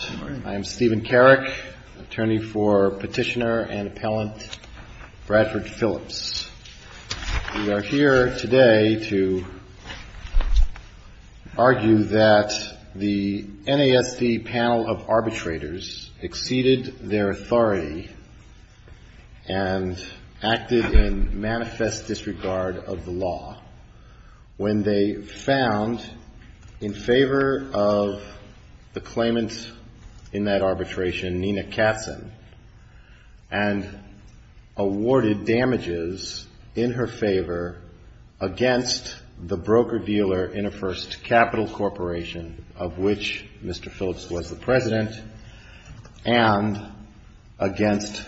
I am Stephen Carrick, attorney for Petitioner and Appellant Bradford Phillips. We are here today to argue that the NASD panel of arbitrators exceeded their authority and acted in manifest disregard of the law when they found in favor of the claimant in that arbitration, Nina Katzin, and awarded damages in her favor against the broker-dealer in a first capital corporation of which Mr. Phillips was the president, and against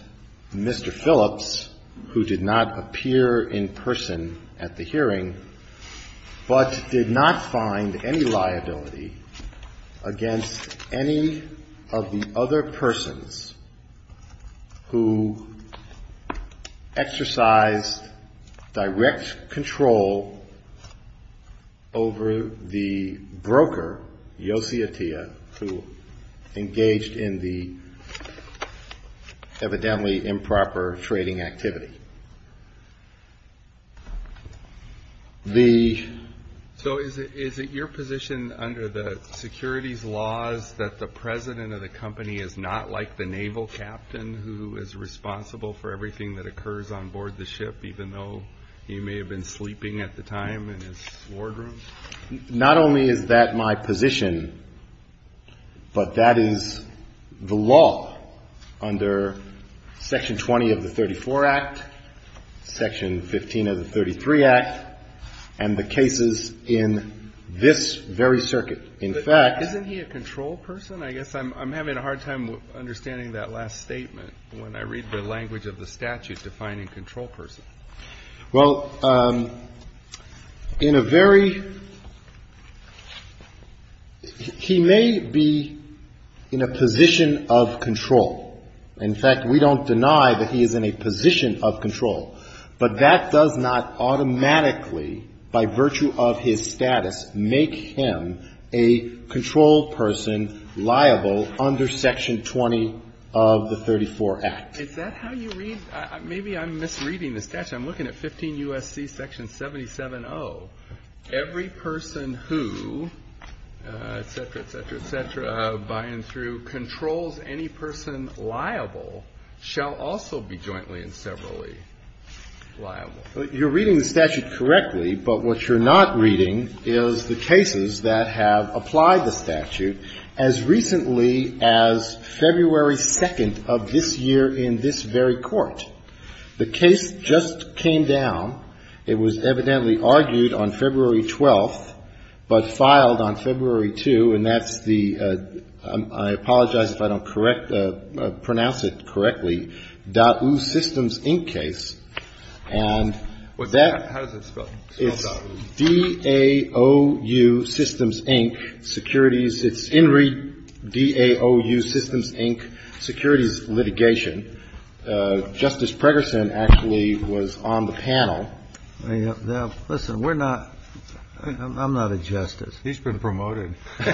Mr. Phillips, who did not appear in person at the hearing, but did not find any liability against any of the other persons who exercised direct control over the broker, Yossi Atiyah, who engaged in the evidently improper trading activity. So is it your position under the securities laws that the president of the company is not like the naval captain who is responsible for everything that occurs on board the ship, even though he may have been sleeping at the time in his wardroom? Not only is that my position, but that is the law under Section 20 of the 34 Act, Section 15 of the 33 Act, and Section 15 of the 34 Act. And the cases in this very circuit, in fact — Isn't he a control person? I guess I'm having a hard time understanding that last statement when I read the language of the statute defining control person. Well, in a very — he may be in a position of control. In fact, we don't deny that he is in a position of control. But that does not automatically, by virtue of his status, make him a control person liable under Section 20 of the 34 Act. Is that how you read — maybe I'm misreading the statute. I'm looking at 15 U.S.C. Section 77-0. Every person who, et cetera, et cetera, et cetera, by and through, controls any person liable shall also be jointly and severally liable. You're reading the statute correctly, but what you're not reading is the cases that have applied the statute as recently as February 2nd of this year in this very court. The case just came down. It was evidently argued on February 12th, but filed on February 2, and that's the — I apologize if I don't correct — pronounce it correctly — Dau Systems, Inc. case. And that — How does it spell? It's D-A-O-U Systems, Inc. Securities — it's in read D-A-O-U Systems, Inc. Securities Litigation. Justice Pregerson actually was on the panel. Now, listen, we're not — I'm not a justice. He's been promoted. You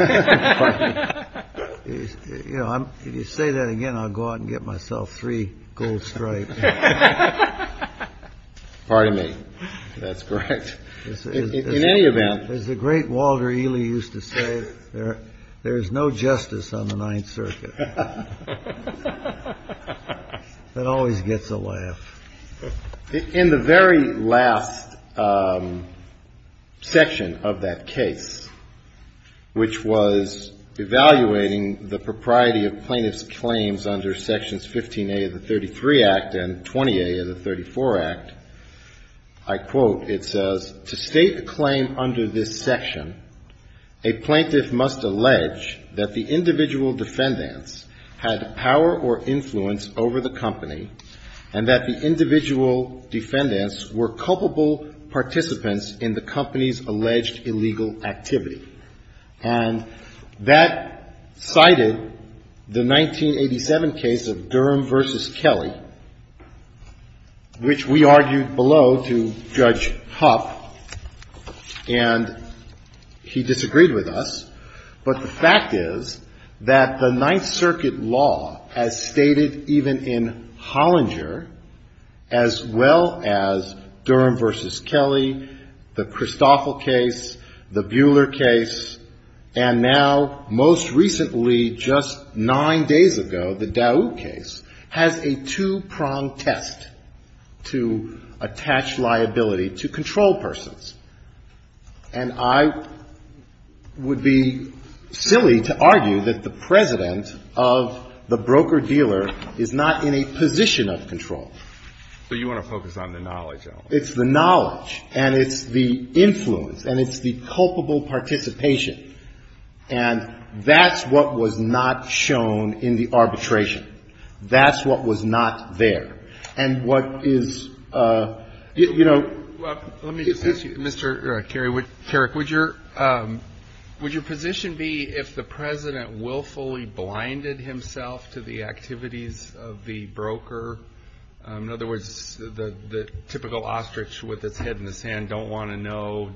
know, if you say that again, I'll go out and get myself three gold stripes. Pardon me. That's correct. In any event — As the great Walter Ely used to say, there is no justice on the Ninth Circuit. It always gets a laugh. In the very last section of that case, which was evaluating the propriety of plaintiff's claims under Sections 15A of the 33 Act and 20A of the 34 Act, I quote, it says, to state a claim under this section, a plaintiff must allege that the individual defendants had power or influence over the company, and that the individual defendants were culpable participants in the company's alleged illegal activity. And that cited the 1987 case of Durham v. Kelly, which we argued below to Judge Hupp, and he disagreed with us. But the fact is that the Ninth Circuit law, as stated even in Hollinger, as well as Durham v. Kelly, the Christoffel case, the Buehler case, and now, most recently, just nine days ago, the Daoud case, has a two-pronged test to attach liability to controlled persons. And I would be silly to argue that the president of the broker-dealer is not in a position of control. So you want to focus on the knowledge element. It's the knowledge, and it's the influence, and it's the culpable participation. And that's what was not shown in the arbitration. That's what was not there. And what is, you know — Well, let me just ask you, Mr. Kerry, would your position be if the president willfully blinded himself to the activities of the broker? In other words, the typical ostrich with its head in the sand don't want to know.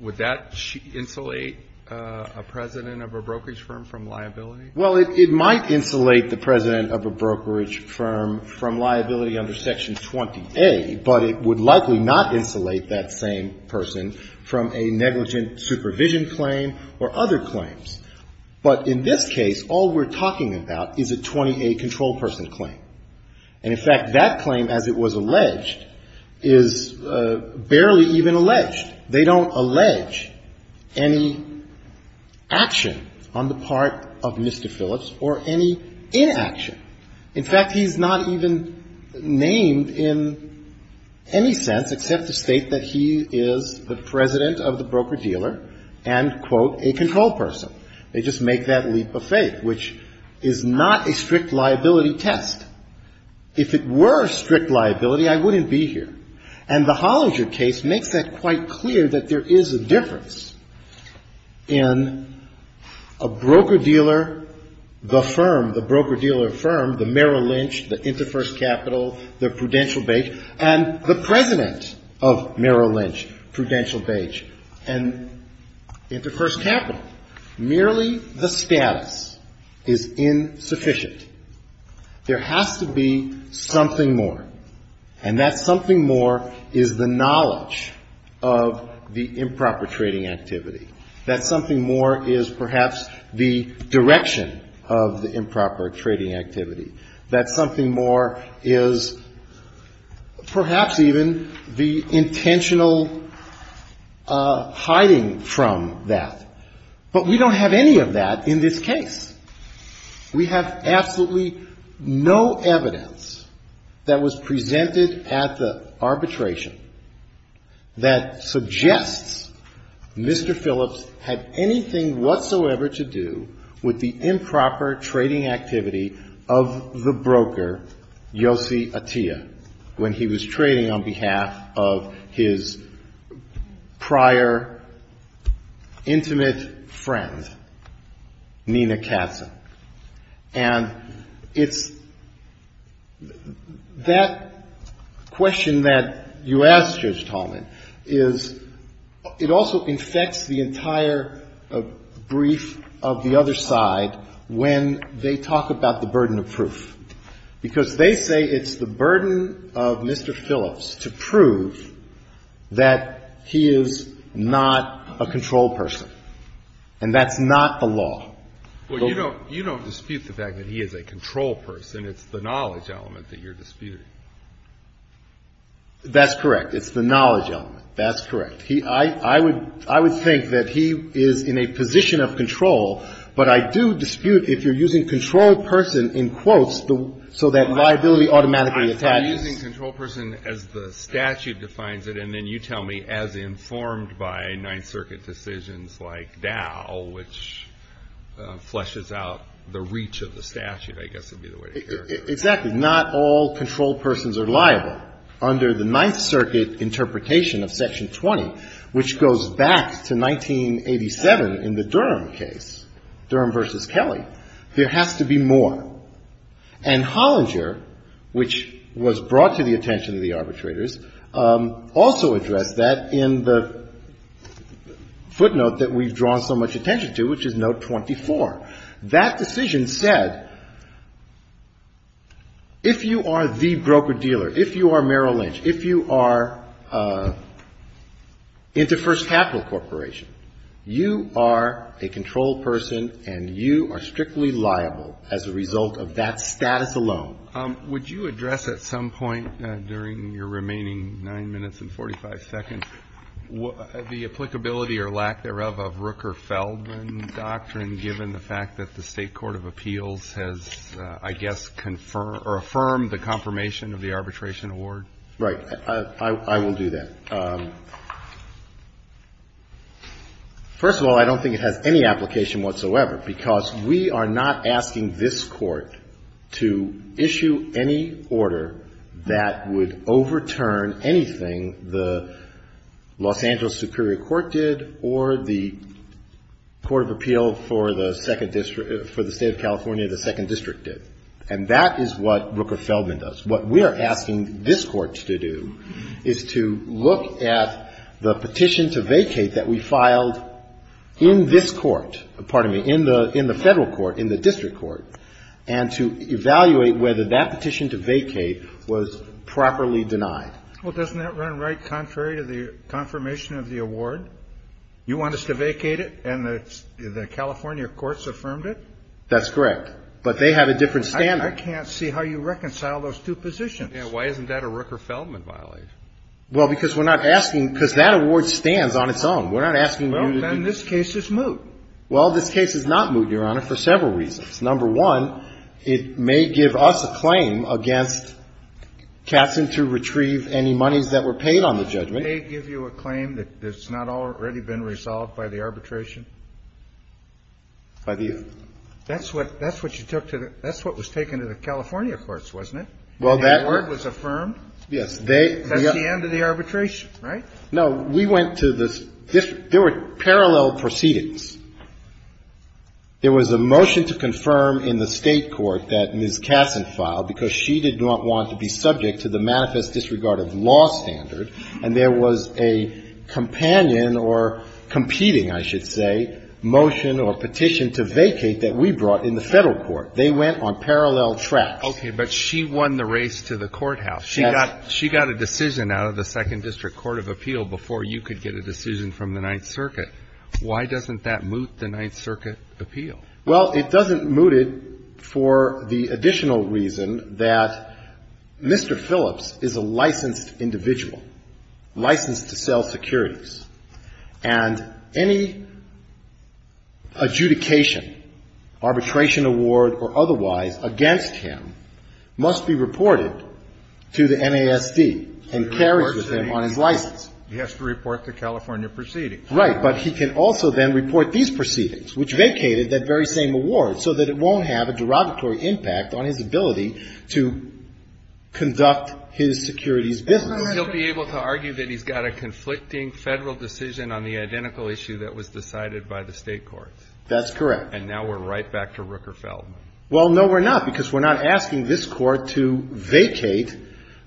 Would that insulate a president of a brokerage firm from liability? Well, it might insulate the president of a brokerage firm from liability under Section 20A, but it would likely not insulate that same person from a negligent supervision claim or other claims. But in this case, all we're talking about is a 20A controlled person claim. And, in fact, that claim as it was alleged is barely even alleged. They don't allege any action on the part of Mr. Phillips or any inaction. In fact, he's not even named in any sense except to state that he is the president of the broker-dealer and, quote, a controlled person. They just make that leap of faith, which is not a strict liability test. If it were a strict liability, I wouldn't be here. And the Hollinger case makes that quite clear that there is a difference in a broker-dealer, the firm, the broker-dealer firm, the Merrill Lynch, the Interfirst Capital, the Prudential Beige, and the president of Merrill Lynch, Prudential Beige, and Interfirst Capital. Merely the status is insufficient. There has to be something more. And that something more is the knowledge of the improper trading activity. That something more is perhaps the direction of the improper trading activity. That something more is perhaps even the intentional hiding from that. But we don't have any of that in this case. We have absolutely no evidence that was presented at the arbitration that suggests Mr. Phillips had anything whatsoever to do with the improper trading activity of the broker, Yossi Atiyah, when he was trading on behalf of his prior intimate friend, Nina Katzen. And it's that question that you asked, Judge Tallman, is it also infects the entire brief of the other side when they talk about the burden of proof, because they say it's the burden of Mr. Phillips to prove that he is not a controlled person, and that's not the law. Well, you don't dispute the fact that he is a controlled person. It's the knowledge element that you're disputing. That's correct. It's the knowledge element. That's correct. I would think that he is in a position of control, but I do dispute if you're using controlled person in quotes so that liability automatically attaches. You're using controlled person as the statute defines it, and then you tell me, as informed by Ninth Circuit decisions like Dow, which fleshes out the reach of the statute, I guess would be the way to characterize it. Exactly. Not all controlled persons are liable. Under the Ninth Circuit interpretation of Section 20, which goes back to 1987 in the Durham case, Durham v. Kelly, there has to be more. And Hollinger, which was brought to the attention of the arbitrators, also addressed that in the footnote that we've drawn so much attention to, which is Note 24. That decision said, if you are the broker-dealer, if you are Merrill Lynch, if you are InterFirst Capital Corporation, you are a controlled person and you are strictly liable as a result of that status alone. Would you address at some point during your remaining 9 minutes and 45 seconds the applicability or lack thereof of Rooker-Feldman doctrine, given the fact that the State Court of Appeals has, I guess, confirmed or affirmed the confirmation of the arbitration award? Right. I will do that. First of all, I don't think it has any application whatsoever, because we are not asking this Court to issue any order that would overturn anything the Los Angeles Superior Court did or the Court of Appeal for the State of California, the Second District did. And that is what Rooker-Feldman does. What we are asking this Court to do is to look at the petition to vacate that we filed in this Court, pardon me, in the Federal Court, in the District Court, and to evaluate whether that petition to vacate was properly denied. Well, doesn't that run right contrary to the confirmation of the award? You want us to vacate it and the California courts affirmed it? That's correct. But they have a different standard. I can't see how you reconcile those two positions. Yeah. Why isn't that a Rooker-Feldman violation? Well, because we're not asking, because that award stands on its own. We're not asking you to do this. Well, then this case is moot. Well, this case is not moot, Your Honor, for several reasons. Number one, it may give us a claim against Katzen to retrieve any monies that were paid on the judgment. It may give you a claim that's not already been resolved by the arbitration? By the? That's what you took to the – that's what was taken to the California courts, wasn't it? Well, that was affirmed? Yes. That's the end of the arbitration, right? No. We went to the – there were parallel proceedings. There was a motion to confirm in the State court that Ms. Katzen filed because she did not want to be subject to the manifest disregard of law standard, and there was a companion or competing, I should say, motion or petition to vacate that we brought in the Federal court. They went on parallel tracks. Okay. But she won the race to the courthouse. She got a decision out of the Second District Court of Appeal before you could get a decision from the Ninth Circuit. Why doesn't that moot the Ninth Circuit appeal? Well, it doesn't moot it for the additional reason that Mr. Phillips is a licensed individual. Licensed to sell securities. And any adjudication, arbitration award or otherwise against him must be reported to the NASD and carried with him on his license. He has to report the California proceedings. Right. But he can also then report these proceedings, which vacated that very same award, so that it won't have a derogatory impact on his ability to conduct his securities business. He'll be able to argue that he's got a conflicting Federal decision on the identical issue that was decided by the State courts. That's correct. And now we're right back to Ruckerfeld. Well, no, we're not, because we're not asking this Court to vacate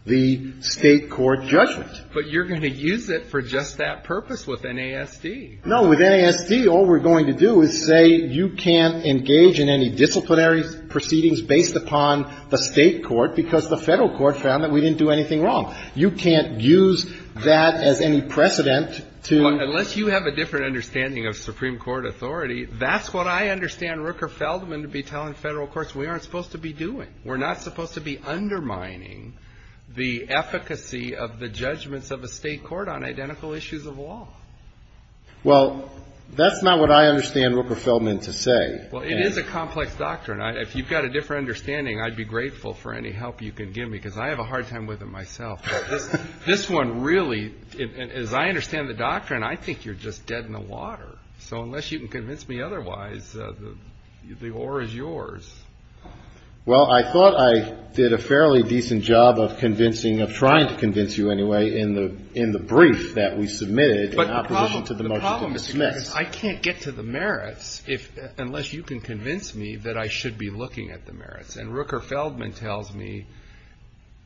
the State court judgment. But you're going to use it for just that purpose with NASD. No. With NASD, all we're going to do is say you can't engage in any disciplinary proceedings based upon the State court, because the Federal court found that we didn't do anything wrong. You can't use that as any precedent to — Unless you have a different understanding of Supreme Court authority, that's what I understand Ruckerfeldman to be telling Federal courts we aren't supposed to be doing. We're not supposed to be undermining the efficacy of the judgments of a State court on identical issues of law. Well, that's not what I understand Ruckerfeldman to say. Well, it is a complex doctrine. If you've got a different understanding, I'd be grateful for any help you can give me, because I have a hard time with it myself. But this one really — as I understand the doctrine, I think you're just dead in the water. So unless you can convince me otherwise, the oar is yours. Well, I thought I did a fairly decent job of convincing — of trying to convince you, anyway, in the brief that we submitted in opposition to the motion to dismiss. But the problem is I can't get to the merits unless you can convince me that I should be looking at the merits. And Ruckerfeldman tells me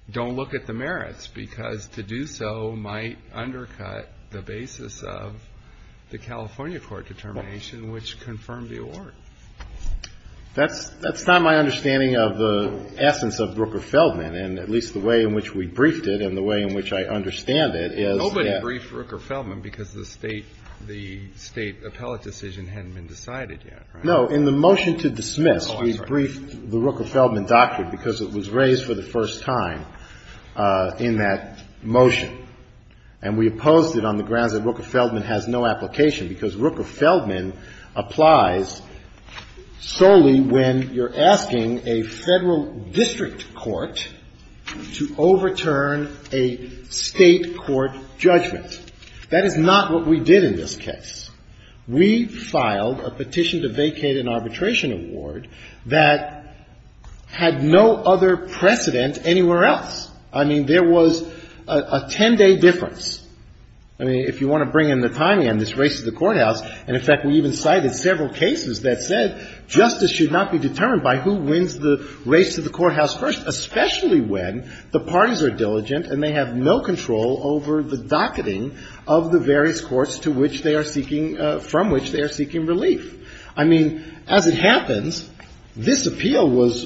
don't look at the merits, because to do so might undercut the basis of the California court determination, which confirmed the oar. That's not my understanding of the essence of Ruckerfeldman, and at least the way in which we briefed it and the way in which I understand it is that — Nobody briefed Ruckerfeldman because the State appellate decision hadn't been decided yet, right? No. In the motion to dismiss, we briefed the Ruckerfeldman doctrine because it was raised for the first time in that motion. And we opposed it on the grounds that Ruckerfeldman has no application, because Ruckerfeldman applies solely when you're asking a Federal district court to overturn a State court judgment. That is not what we did in this case. We filed a petition to vacate an arbitration award that had no other precedent anywhere else. I mean, there was a 10-day difference. I mean, if you want to bring in the timing on this race to the courthouse — and, in fact, we even cited several cases that said justice should not be determined by who wins the race to the courthouse first, especially when the parties are diligent and they have no control over the docketing of the various courts to which they are seeking — from which they are seeking relief. I mean, as it happens, this appeal was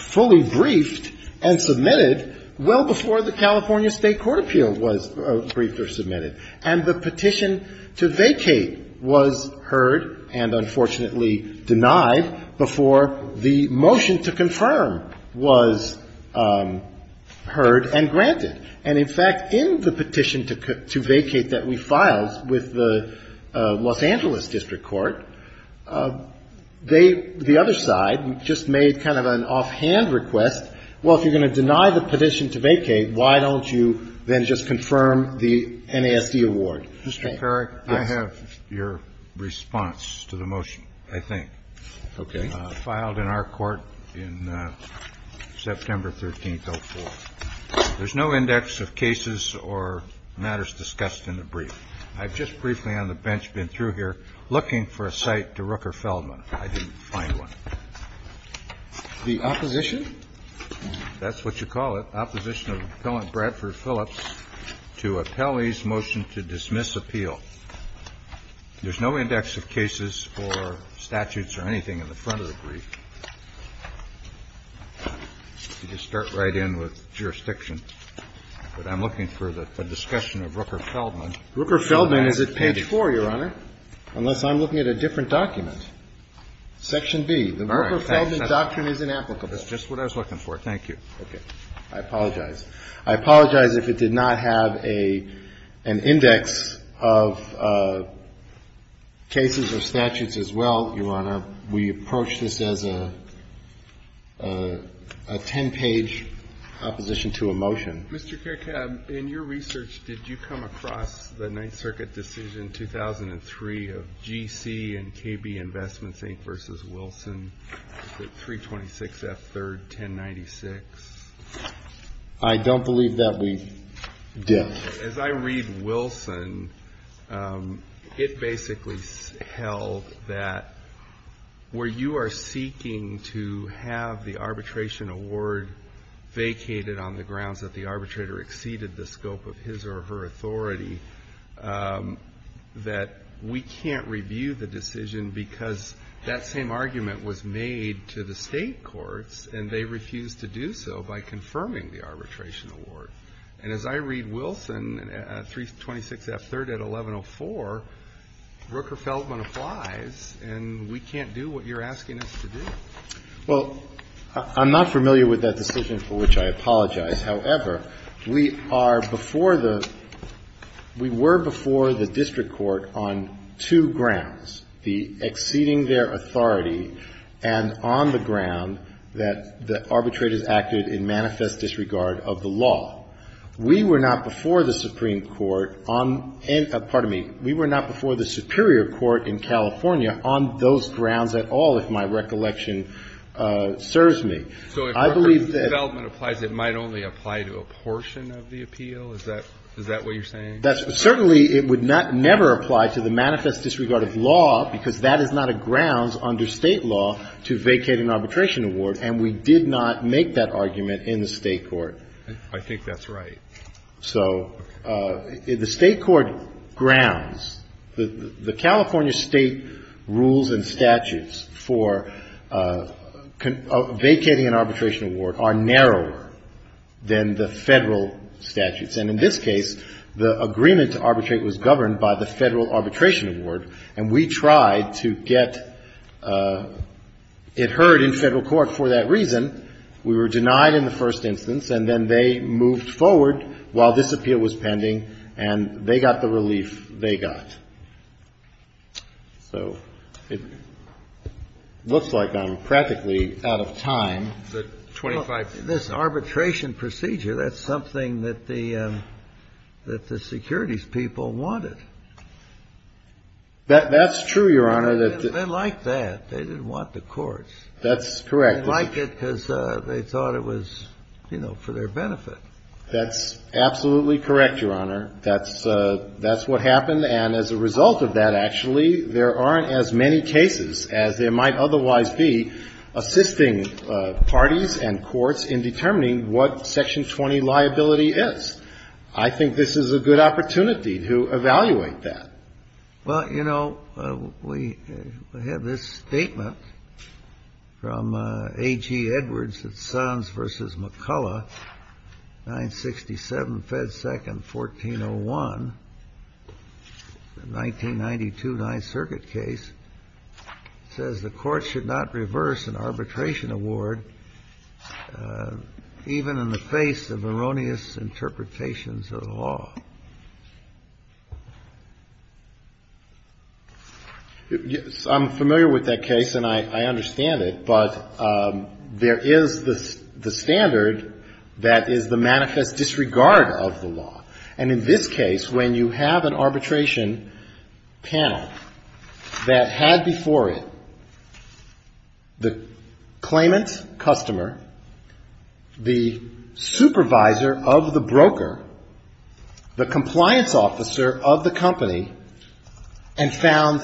fully briefed and submitted well before the California State court appeal was briefed or submitted. And the petition to vacate was heard and, unfortunately, denied before the motion to confirm was heard and granted. And, in fact, in the petition to vacate that we filed with the Los Angeles district court, they, the other side, just made kind of an offhand request, well, if you're going to deny the petition to vacate, why don't you then just confirm the NASD award? Mr. Carrick, I have your response to the motion, I think. Okay. Filed in our court in September 13th, 2004. There's no index of cases or matters discussed in the brief. I've just briefly on the bench been through here looking for a cite to Rooker-Feldman. I didn't find one. The opposition? That's what you call it, opposition of Appellant Bradford Phillips to Appellee's request to dismiss appeal. There's no index of cases or statutes or anything in the front of the brief. You just start right in with jurisdiction. But I'm looking for the discussion of Rooker-Feldman. Rooker-Feldman is at page 4, Your Honor, unless I'm looking at a different document. Section B, the Rooker-Feldman doctrine is inapplicable. That's just what I was looking for. Thank you. Okay. I apologize. I apologize if it did not have an index of cases or statutes as well, Your Honor. We approach this as a ten-page opposition to a motion. Mr. Kerkab, in your research, did you come across the Ninth Circuit decision, 2003, of G.C. and KB Investments, Inc. v. Wilson, 326 F. 3rd, 1096? I don't believe that we did. As I read Wilson, it basically held that where you are seeking to have the arbitration award vacated on the grounds that the arbitrator exceeded the scope of his or her authority, that we can't review the decision because that same argument was made to the state courts, and they refused to do so by confirming the arbitration award. And as I read Wilson, 326 F. 3rd at 1104, Rooker-Feldman applies, and we can't do what you're asking us to do. Well, I'm not familiar with that decision, for which I apologize. However, we are before the we were before the district court on two grounds, the exceeding their authority and on the ground that the arbitrators acted in manifest disregard of the law. We were not before the Supreme Court on pardon me. We were not before the superior court in California on those grounds at all, if my recollection serves me. I believe that. So if Rooker-Feldman applies, it might only apply to a portion of the appeal? Is that what you're saying? That's certainly it would not never apply to the manifest disregard of law because that is not a grounds under State law to vacate an arbitration award, and we did not make that argument in the State court. I think that's right. So the State court grounds, the California State rules and statutes for vacating an arbitration award are narrower than the Federal statutes. And in this case, the agreement to arbitrate was governed by the Federal arbitration award, and we tried to get it heard in Federal court for that reason. We were denied in the first instance, and then they moved forward while this appeal was pending, and they got the relief they got. So it looks like I'm practically out of time. Well, this arbitration procedure, that's something that the securities people wanted. That's true, Your Honor. They liked that. They didn't want the courts. That's correct. They liked it because they thought it was, you know, for their benefit. That's absolutely correct, Your Honor. That's what happened. And as a result of that, actually, there aren't as many cases as there might otherwise be assisting parties and courts in determining what Section 20 liability is. I think this is a good opportunity to evaluate that. Well, you know, we have this statement from A.G. Edwards at Sons v. McCullough, 967 Fed 2nd, 1401, the 1992 Ninth Circuit case. It says the court should not reverse an arbitration award even in the face of erroneous interpretations of the law. Yes, I'm familiar with that case, and I understand it. But there is the standard that is the manifest disregard of the law. And in this case, when you have an arbitration panel that had before it the claimant's customer, the supervisor of the broker, the compliance officer of the company, and found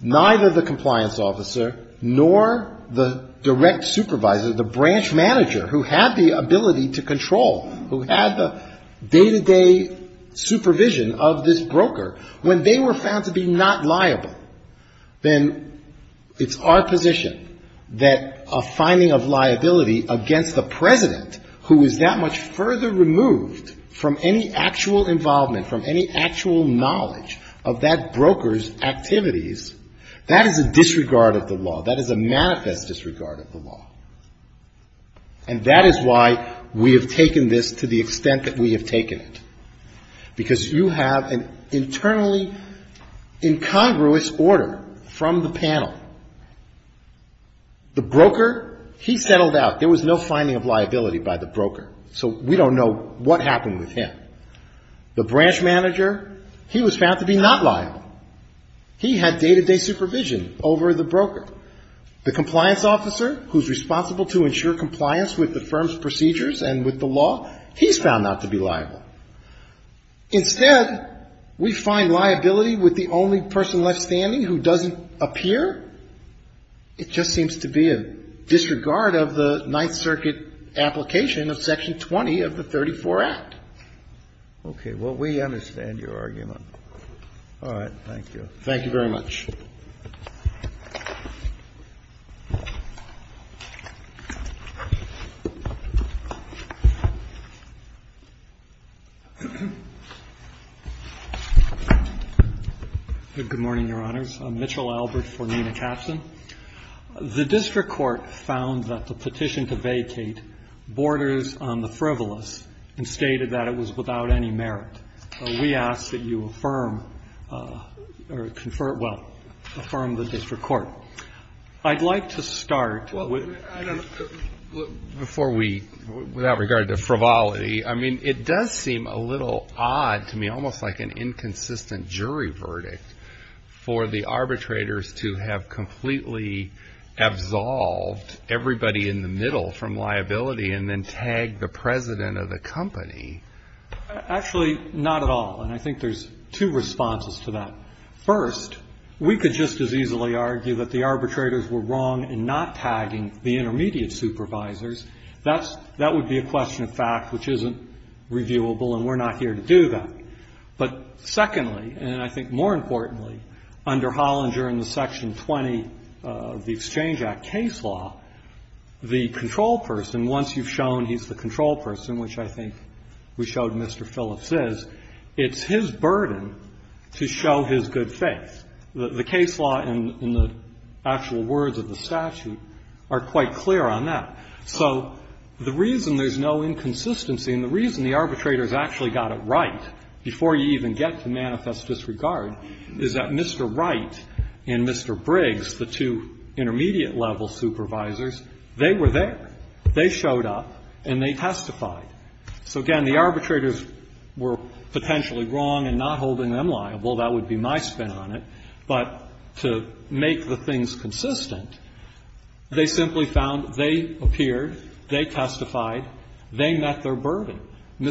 neither the compliance officer nor the direct supervisor, the branch manager, who had the ability to control, who had the day-to-day supervision of this broker, when they were found to be not liable, then it's our position that a finding of liability against the President, who is that much of that broker's activities, that is a disregard of the law. That is a manifest disregard of the law. And that is why we have taken this to the extent that we have taken it, because you have an internally incongruous order from the panel. The broker, he settled out. There was no finding of liability by the broker, so we don't know what happened with him. The branch manager, he was found to be not liable. He had day-to-day supervision over the broker. The compliance officer, who is responsible to ensure compliance with the firm's procedures and with the law, he's found not to be liable. Instead, we find liability with the only person left standing who doesn't appear. It just seems to be a disregard of the Ninth Circuit application of Section 20 of the 34 Act. Okay. Well, we understand your argument. All right. Thank you. Thank you very much. Thank you. Good morning, Your Honors. I'm Mitchell Albert for Nina Capstan. The district court found that the petition to vacate borders on the frivolous and stated that it was without any merit. We ask that you affirm or confer, well, affirm the district court. I'd like to start with. Well, I don't know. Before we, without regard to frivolity, I mean, it does seem a little odd to me, almost like an inconsistent jury verdict for the arbitrators to have completely absolved everybody in the middle from liability and then tagged the president of the company. Actually, not at all. And I think there's two responses to that. First, we could just as easily argue that the arbitrators were wrong in not tagging the intermediate supervisors. That would be a question of fact which isn't reviewable, and we're not here to do that. But secondly, and I think more importantly, under Hollinger in the Section 20 of the Exchange Act case law, the control person, once you've shown he's the control person, which I think we showed Mr. Phillips is, it's his burden to show his good faith. The case law and the actual words of the statute are quite clear on that. So the reason there's no inconsistency and the reason the arbitrators actually got it right before you even get to manifest disregard is that Mr. Wright and Mr. Briggs, the two intermediate-level supervisors, they were there. They showed up and they testified. So, again, the arbitrators were potentially wrong in not holding them liable. That would be my spin on it. But to make the things consistent, they simply found they appeared, they testified, they met their burden. And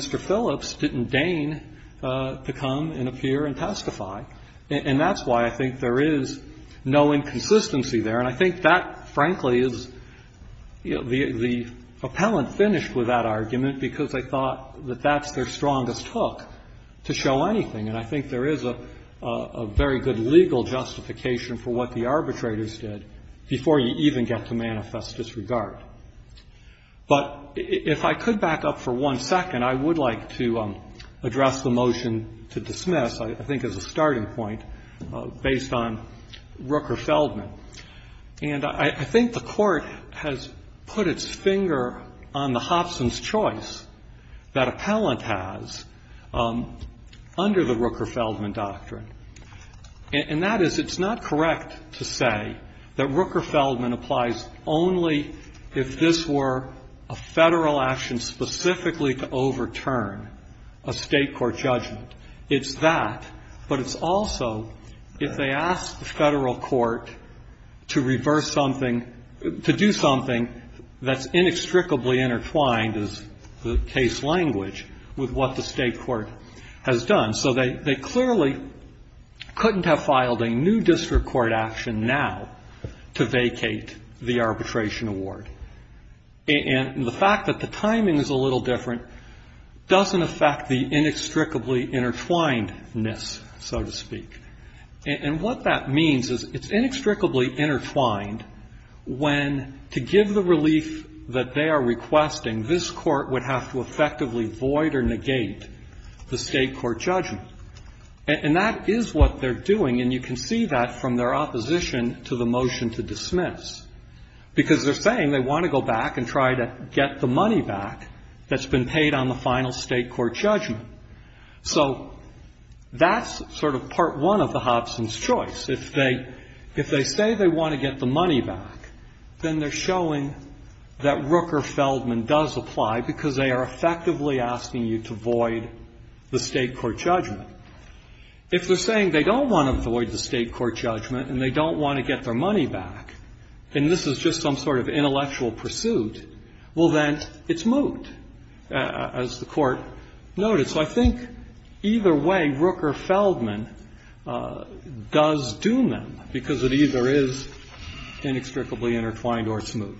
that's why I think there is no inconsistency there. And I think that, frankly, is the appellant finished with that argument because they thought that that's their strongest hook to show anything. And I think there is a very good legal justification for what the arbitrators did before you even get to manifest disregard. But if I could back up for one second, I would like to address the motion to dismiss this, I think, as a starting point based on Rooker-Feldman. And I think the Court has put its finger on the Hobson's choice that appellant has under the Rooker-Feldman doctrine. And that is it's not correct to say that Rooker-Feldman applies only if this were a Federal action specifically to overturn a State court judgment. It's that. But it's also if they ask the Federal court to reverse something, to do something that's inextricably intertwined, as the case language, with what the State court has done. So they clearly couldn't have filed a new district court action now to vacate the arbitration award. And the fact that the timing is a little different doesn't affect the inextricably intertwined-ness, so to speak. And what that means is it's inextricably intertwined when, to give the relief that they are requesting, this Court would have to effectively void or negate the State court judgment. And that is what they're doing. And you can see that from their opposition to the motion to dismiss, because they're saying they want to go back and try to get the money back that's been paid on the final State court judgment. So that's sort of part one of the Hobson's choice. If they say they want to get the money back, then they're showing that Rooker-Feldman does apply, because they are effectively asking you to void the State court judgment. If they're saying they don't want to void the State court judgment and they don't want to get their money back, and this is just some sort of intellectual pursuit, well, then it's moot. And as the Court noted, so I think either way, Rooker-Feldman does doom them, because it either is inextricably intertwined or it's moot.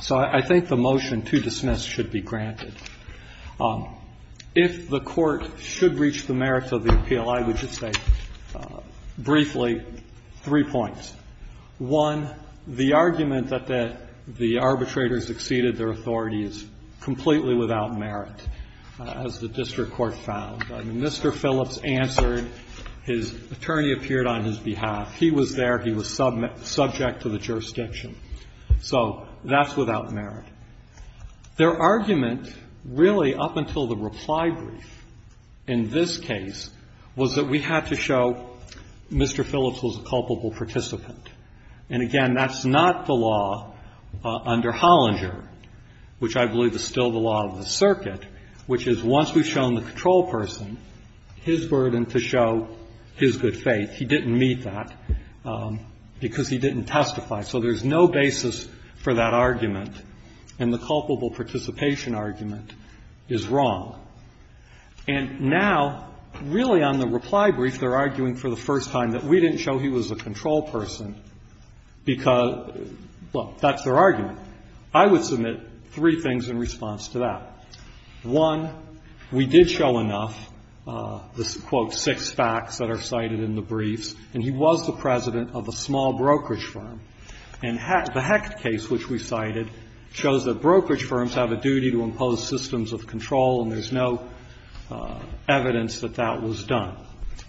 So I think the motion to dismiss should be granted. If the Court should reach the merits of the appeal, I would just say briefly three points. One, the argument that the arbitrators exceeded their authority is completely without merit, as the district court found. I mean, Mr. Phillips answered, his attorney appeared on his behalf. He was there. He was subject to the jurisdiction. So that's without merit. Their argument really up until the reply brief in this case was that we had to show Mr. Phillips was a culpable participant. And again, that's not the law under Hollinger, which I believe is still the law of the circuit, which is once we've shown the control person his burden to show his good faith, he didn't meet that because he didn't testify. So there's no basis for that argument. And the culpable participation argument is wrong. And now, really on the reply brief, they're arguing for the first time that we didn't show he was a control person because, well, that's their argument. I would submit three things in response to that. One, we did show enough, the, quote, six facts that are cited in the briefs, and he was the president of a small brokerage firm. And the Hecht case, which we cited, shows that brokerage firms have a duty to impose their own systems of control, and there's no evidence that that was done.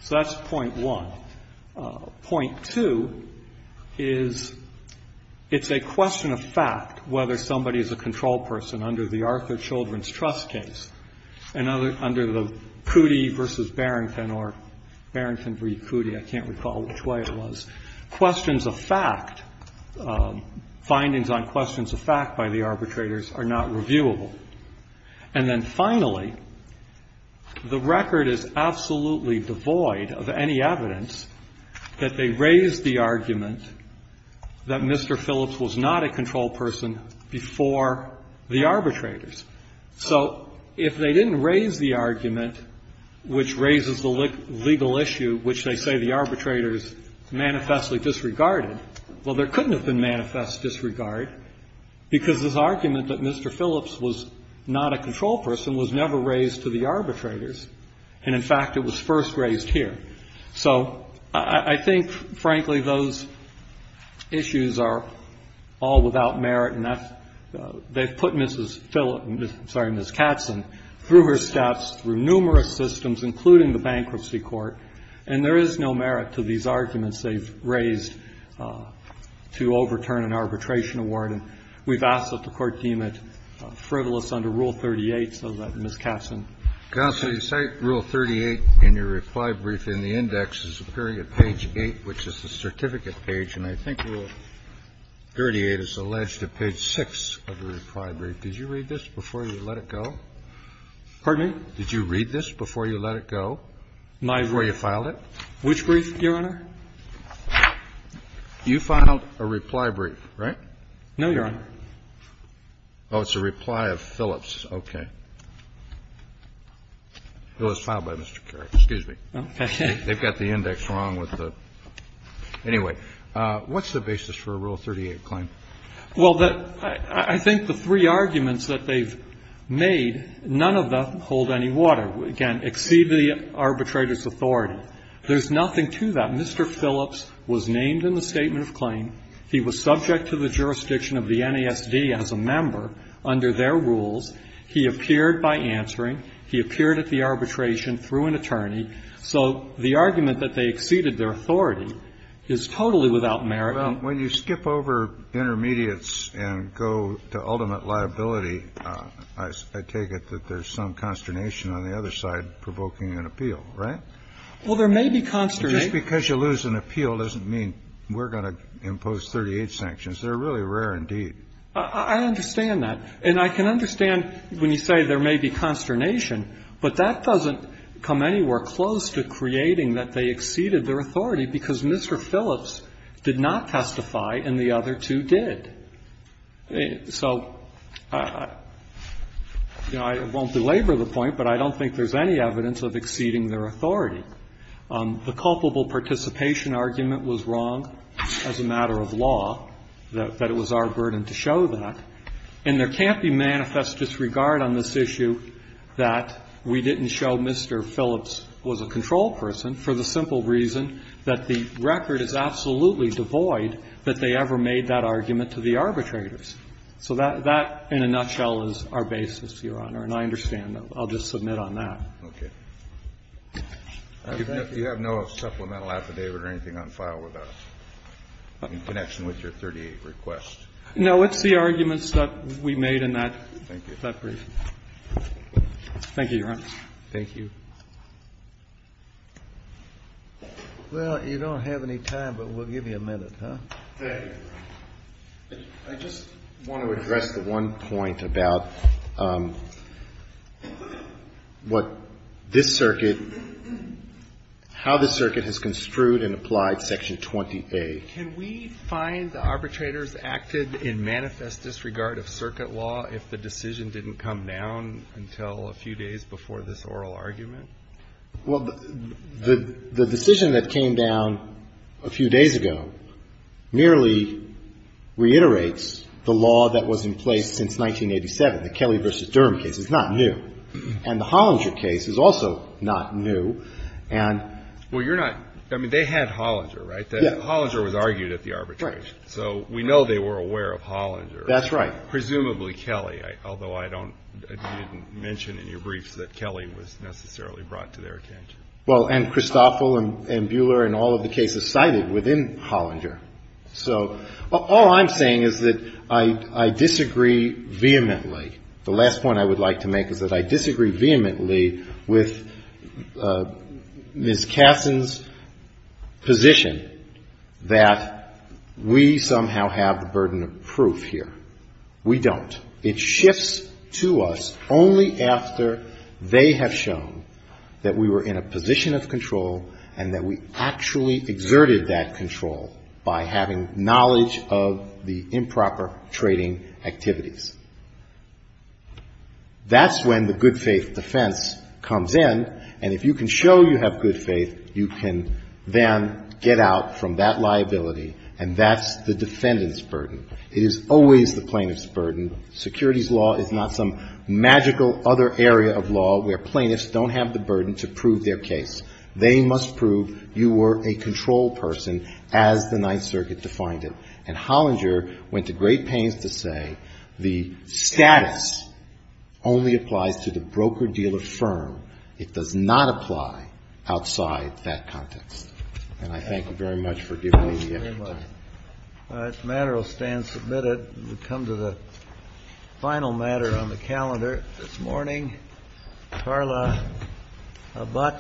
So that's point one. Point two is it's a question of fact whether somebody is a control person under the Arthur Children's Trust case, and under the Cootie v. Barrington, or Barrington v. Cootie, I can't recall which way it was, questions of fact, findings on questions of fact by the arbitrators are not reviewable. And then finally, the record is absolutely devoid of any evidence that they raised the argument that Mr. Phillips was not a control person before the arbitrators. So if they didn't raise the argument which raises the legal issue which they say the because this argument that Mr. Phillips was not a control person was never raised to the arbitrators, and, in fact, it was first raised here. So I think, frankly, those issues are all without merit, and that's they've put Mrs. Phillips, I'm sorry, Ms. Katzen, through her steps, through numerous systems, including the bankruptcy court, and there is no merit to these arguments they've We've asked that the Court deem it frivolous under Rule 38, so that Ms. Katzen can say. Kennedy. Counsel, you cite Rule 38 in your reply brief in the index as appearing at page 8, which is the certificate page, and I think Rule 38 is alleged at page 6 of the reply brief. Did you read this before you let it go? Pardon me? Did you read this before you let it go, before you filed it? Which brief, Your Honor? You filed a reply brief, right? No, Your Honor. Oh, it's a reply of Phillips. Okay. It was filed by Mr. Kerry. Excuse me. Okay. They've got the index wrong with the anyway. What's the basis for a Rule 38 claim? Well, I think the three arguments that they've made, none of them hold any water. Again, exceed the arbitrator's authority. There's nothing to that. Mr. Phillips was named in the statement of claim. He was subject to the jurisdiction of the NASD as a member under their rules. He appeared by answering. He appeared at the arbitration through an attorney. So the argument that they exceeded their authority is totally without merit. Well, when you skip over intermediates and go to ultimate liability, I take it that there's some consternation on the other side provoking an appeal, right? Well, there may be consternation. Just because you lose an appeal doesn't mean we're going to impose 38 sanctions. They're really rare indeed. I understand that. And I can understand when you say there may be consternation, but that doesn't come anywhere close to creating that they exceeded their authority, because Mr. Phillips did not testify and the other two did. So, you know, I won't belabor the point, but I don't think there's any evidence of exceeding their authority. The culpable participation argument was wrong as a matter of law, that it was our burden to show that. And there can't be manifest disregard on this issue that we didn't show Mr. Phillips was a control person for the simple reason that the record is absolutely devoid that they ever made that argument to the arbitrators. So that, in a nutshell, is our basis, Your Honor, and I understand that. I'll just submit on that. Okay. Do you have no supplemental affidavit or anything on file with us in connection with your 38 request? No. It's the arguments that we made in that brief. Thank you. Thank you, Your Honor. Thank you. Well, you don't have any time, but we'll give you a minute, huh? Thank you. I just want to address the one point about what this circuit, how this circuit has construed and applied Section 20A. Can we find the arbitrators acted in manifest disregard of circuit law if the decision didn't come down until a few days before this oral argument? Well, the decision that came down a few days ago merely reiterates the law that was in place since 1987, the Kelly v. Durham case. It's not new. And the Hollinger case is also not new. And you're not, I mean, they had Hollinger, right? Yeah. Hollinger was argued at the arbitration. Right. So we know they were aware of Hollinger. That's right. Presumably Kelly, although I don't, you didn't mention in your briefs that Kelly was necessarily brought to their attention. Well, and Christoffel and Buehler and all of the cases cited within Hollinger. So all I'm saying is that I disagree vehemently. The last point I would like to make is that I disagree vehemently with Ms. Kasson's position that we somehow have the burden of proof here. We don't. It shifts to us only after they have shown that we were in a position of control and that we actually exerted that control by having knowledge of the improper trading activities. That's when the good faith defense comes in. And if you can show you have good faith, you can then get out from that liability. And that's the defendant's burden. It is always the plaintiff's burden. Securities law is not some magical other area of law where plaintiffs don't have the burden to prove their case. They must prove you were a control person as the Ninth Circuit defined it. And Hollinger went to great pains to say the status only applies to the broker-dealer firm. It does not apply outside that context. And I thank you very much for giving me the extra time. This matter will stand submitted. We'll come to the final matter on the calendar this morning. Carla Abbott.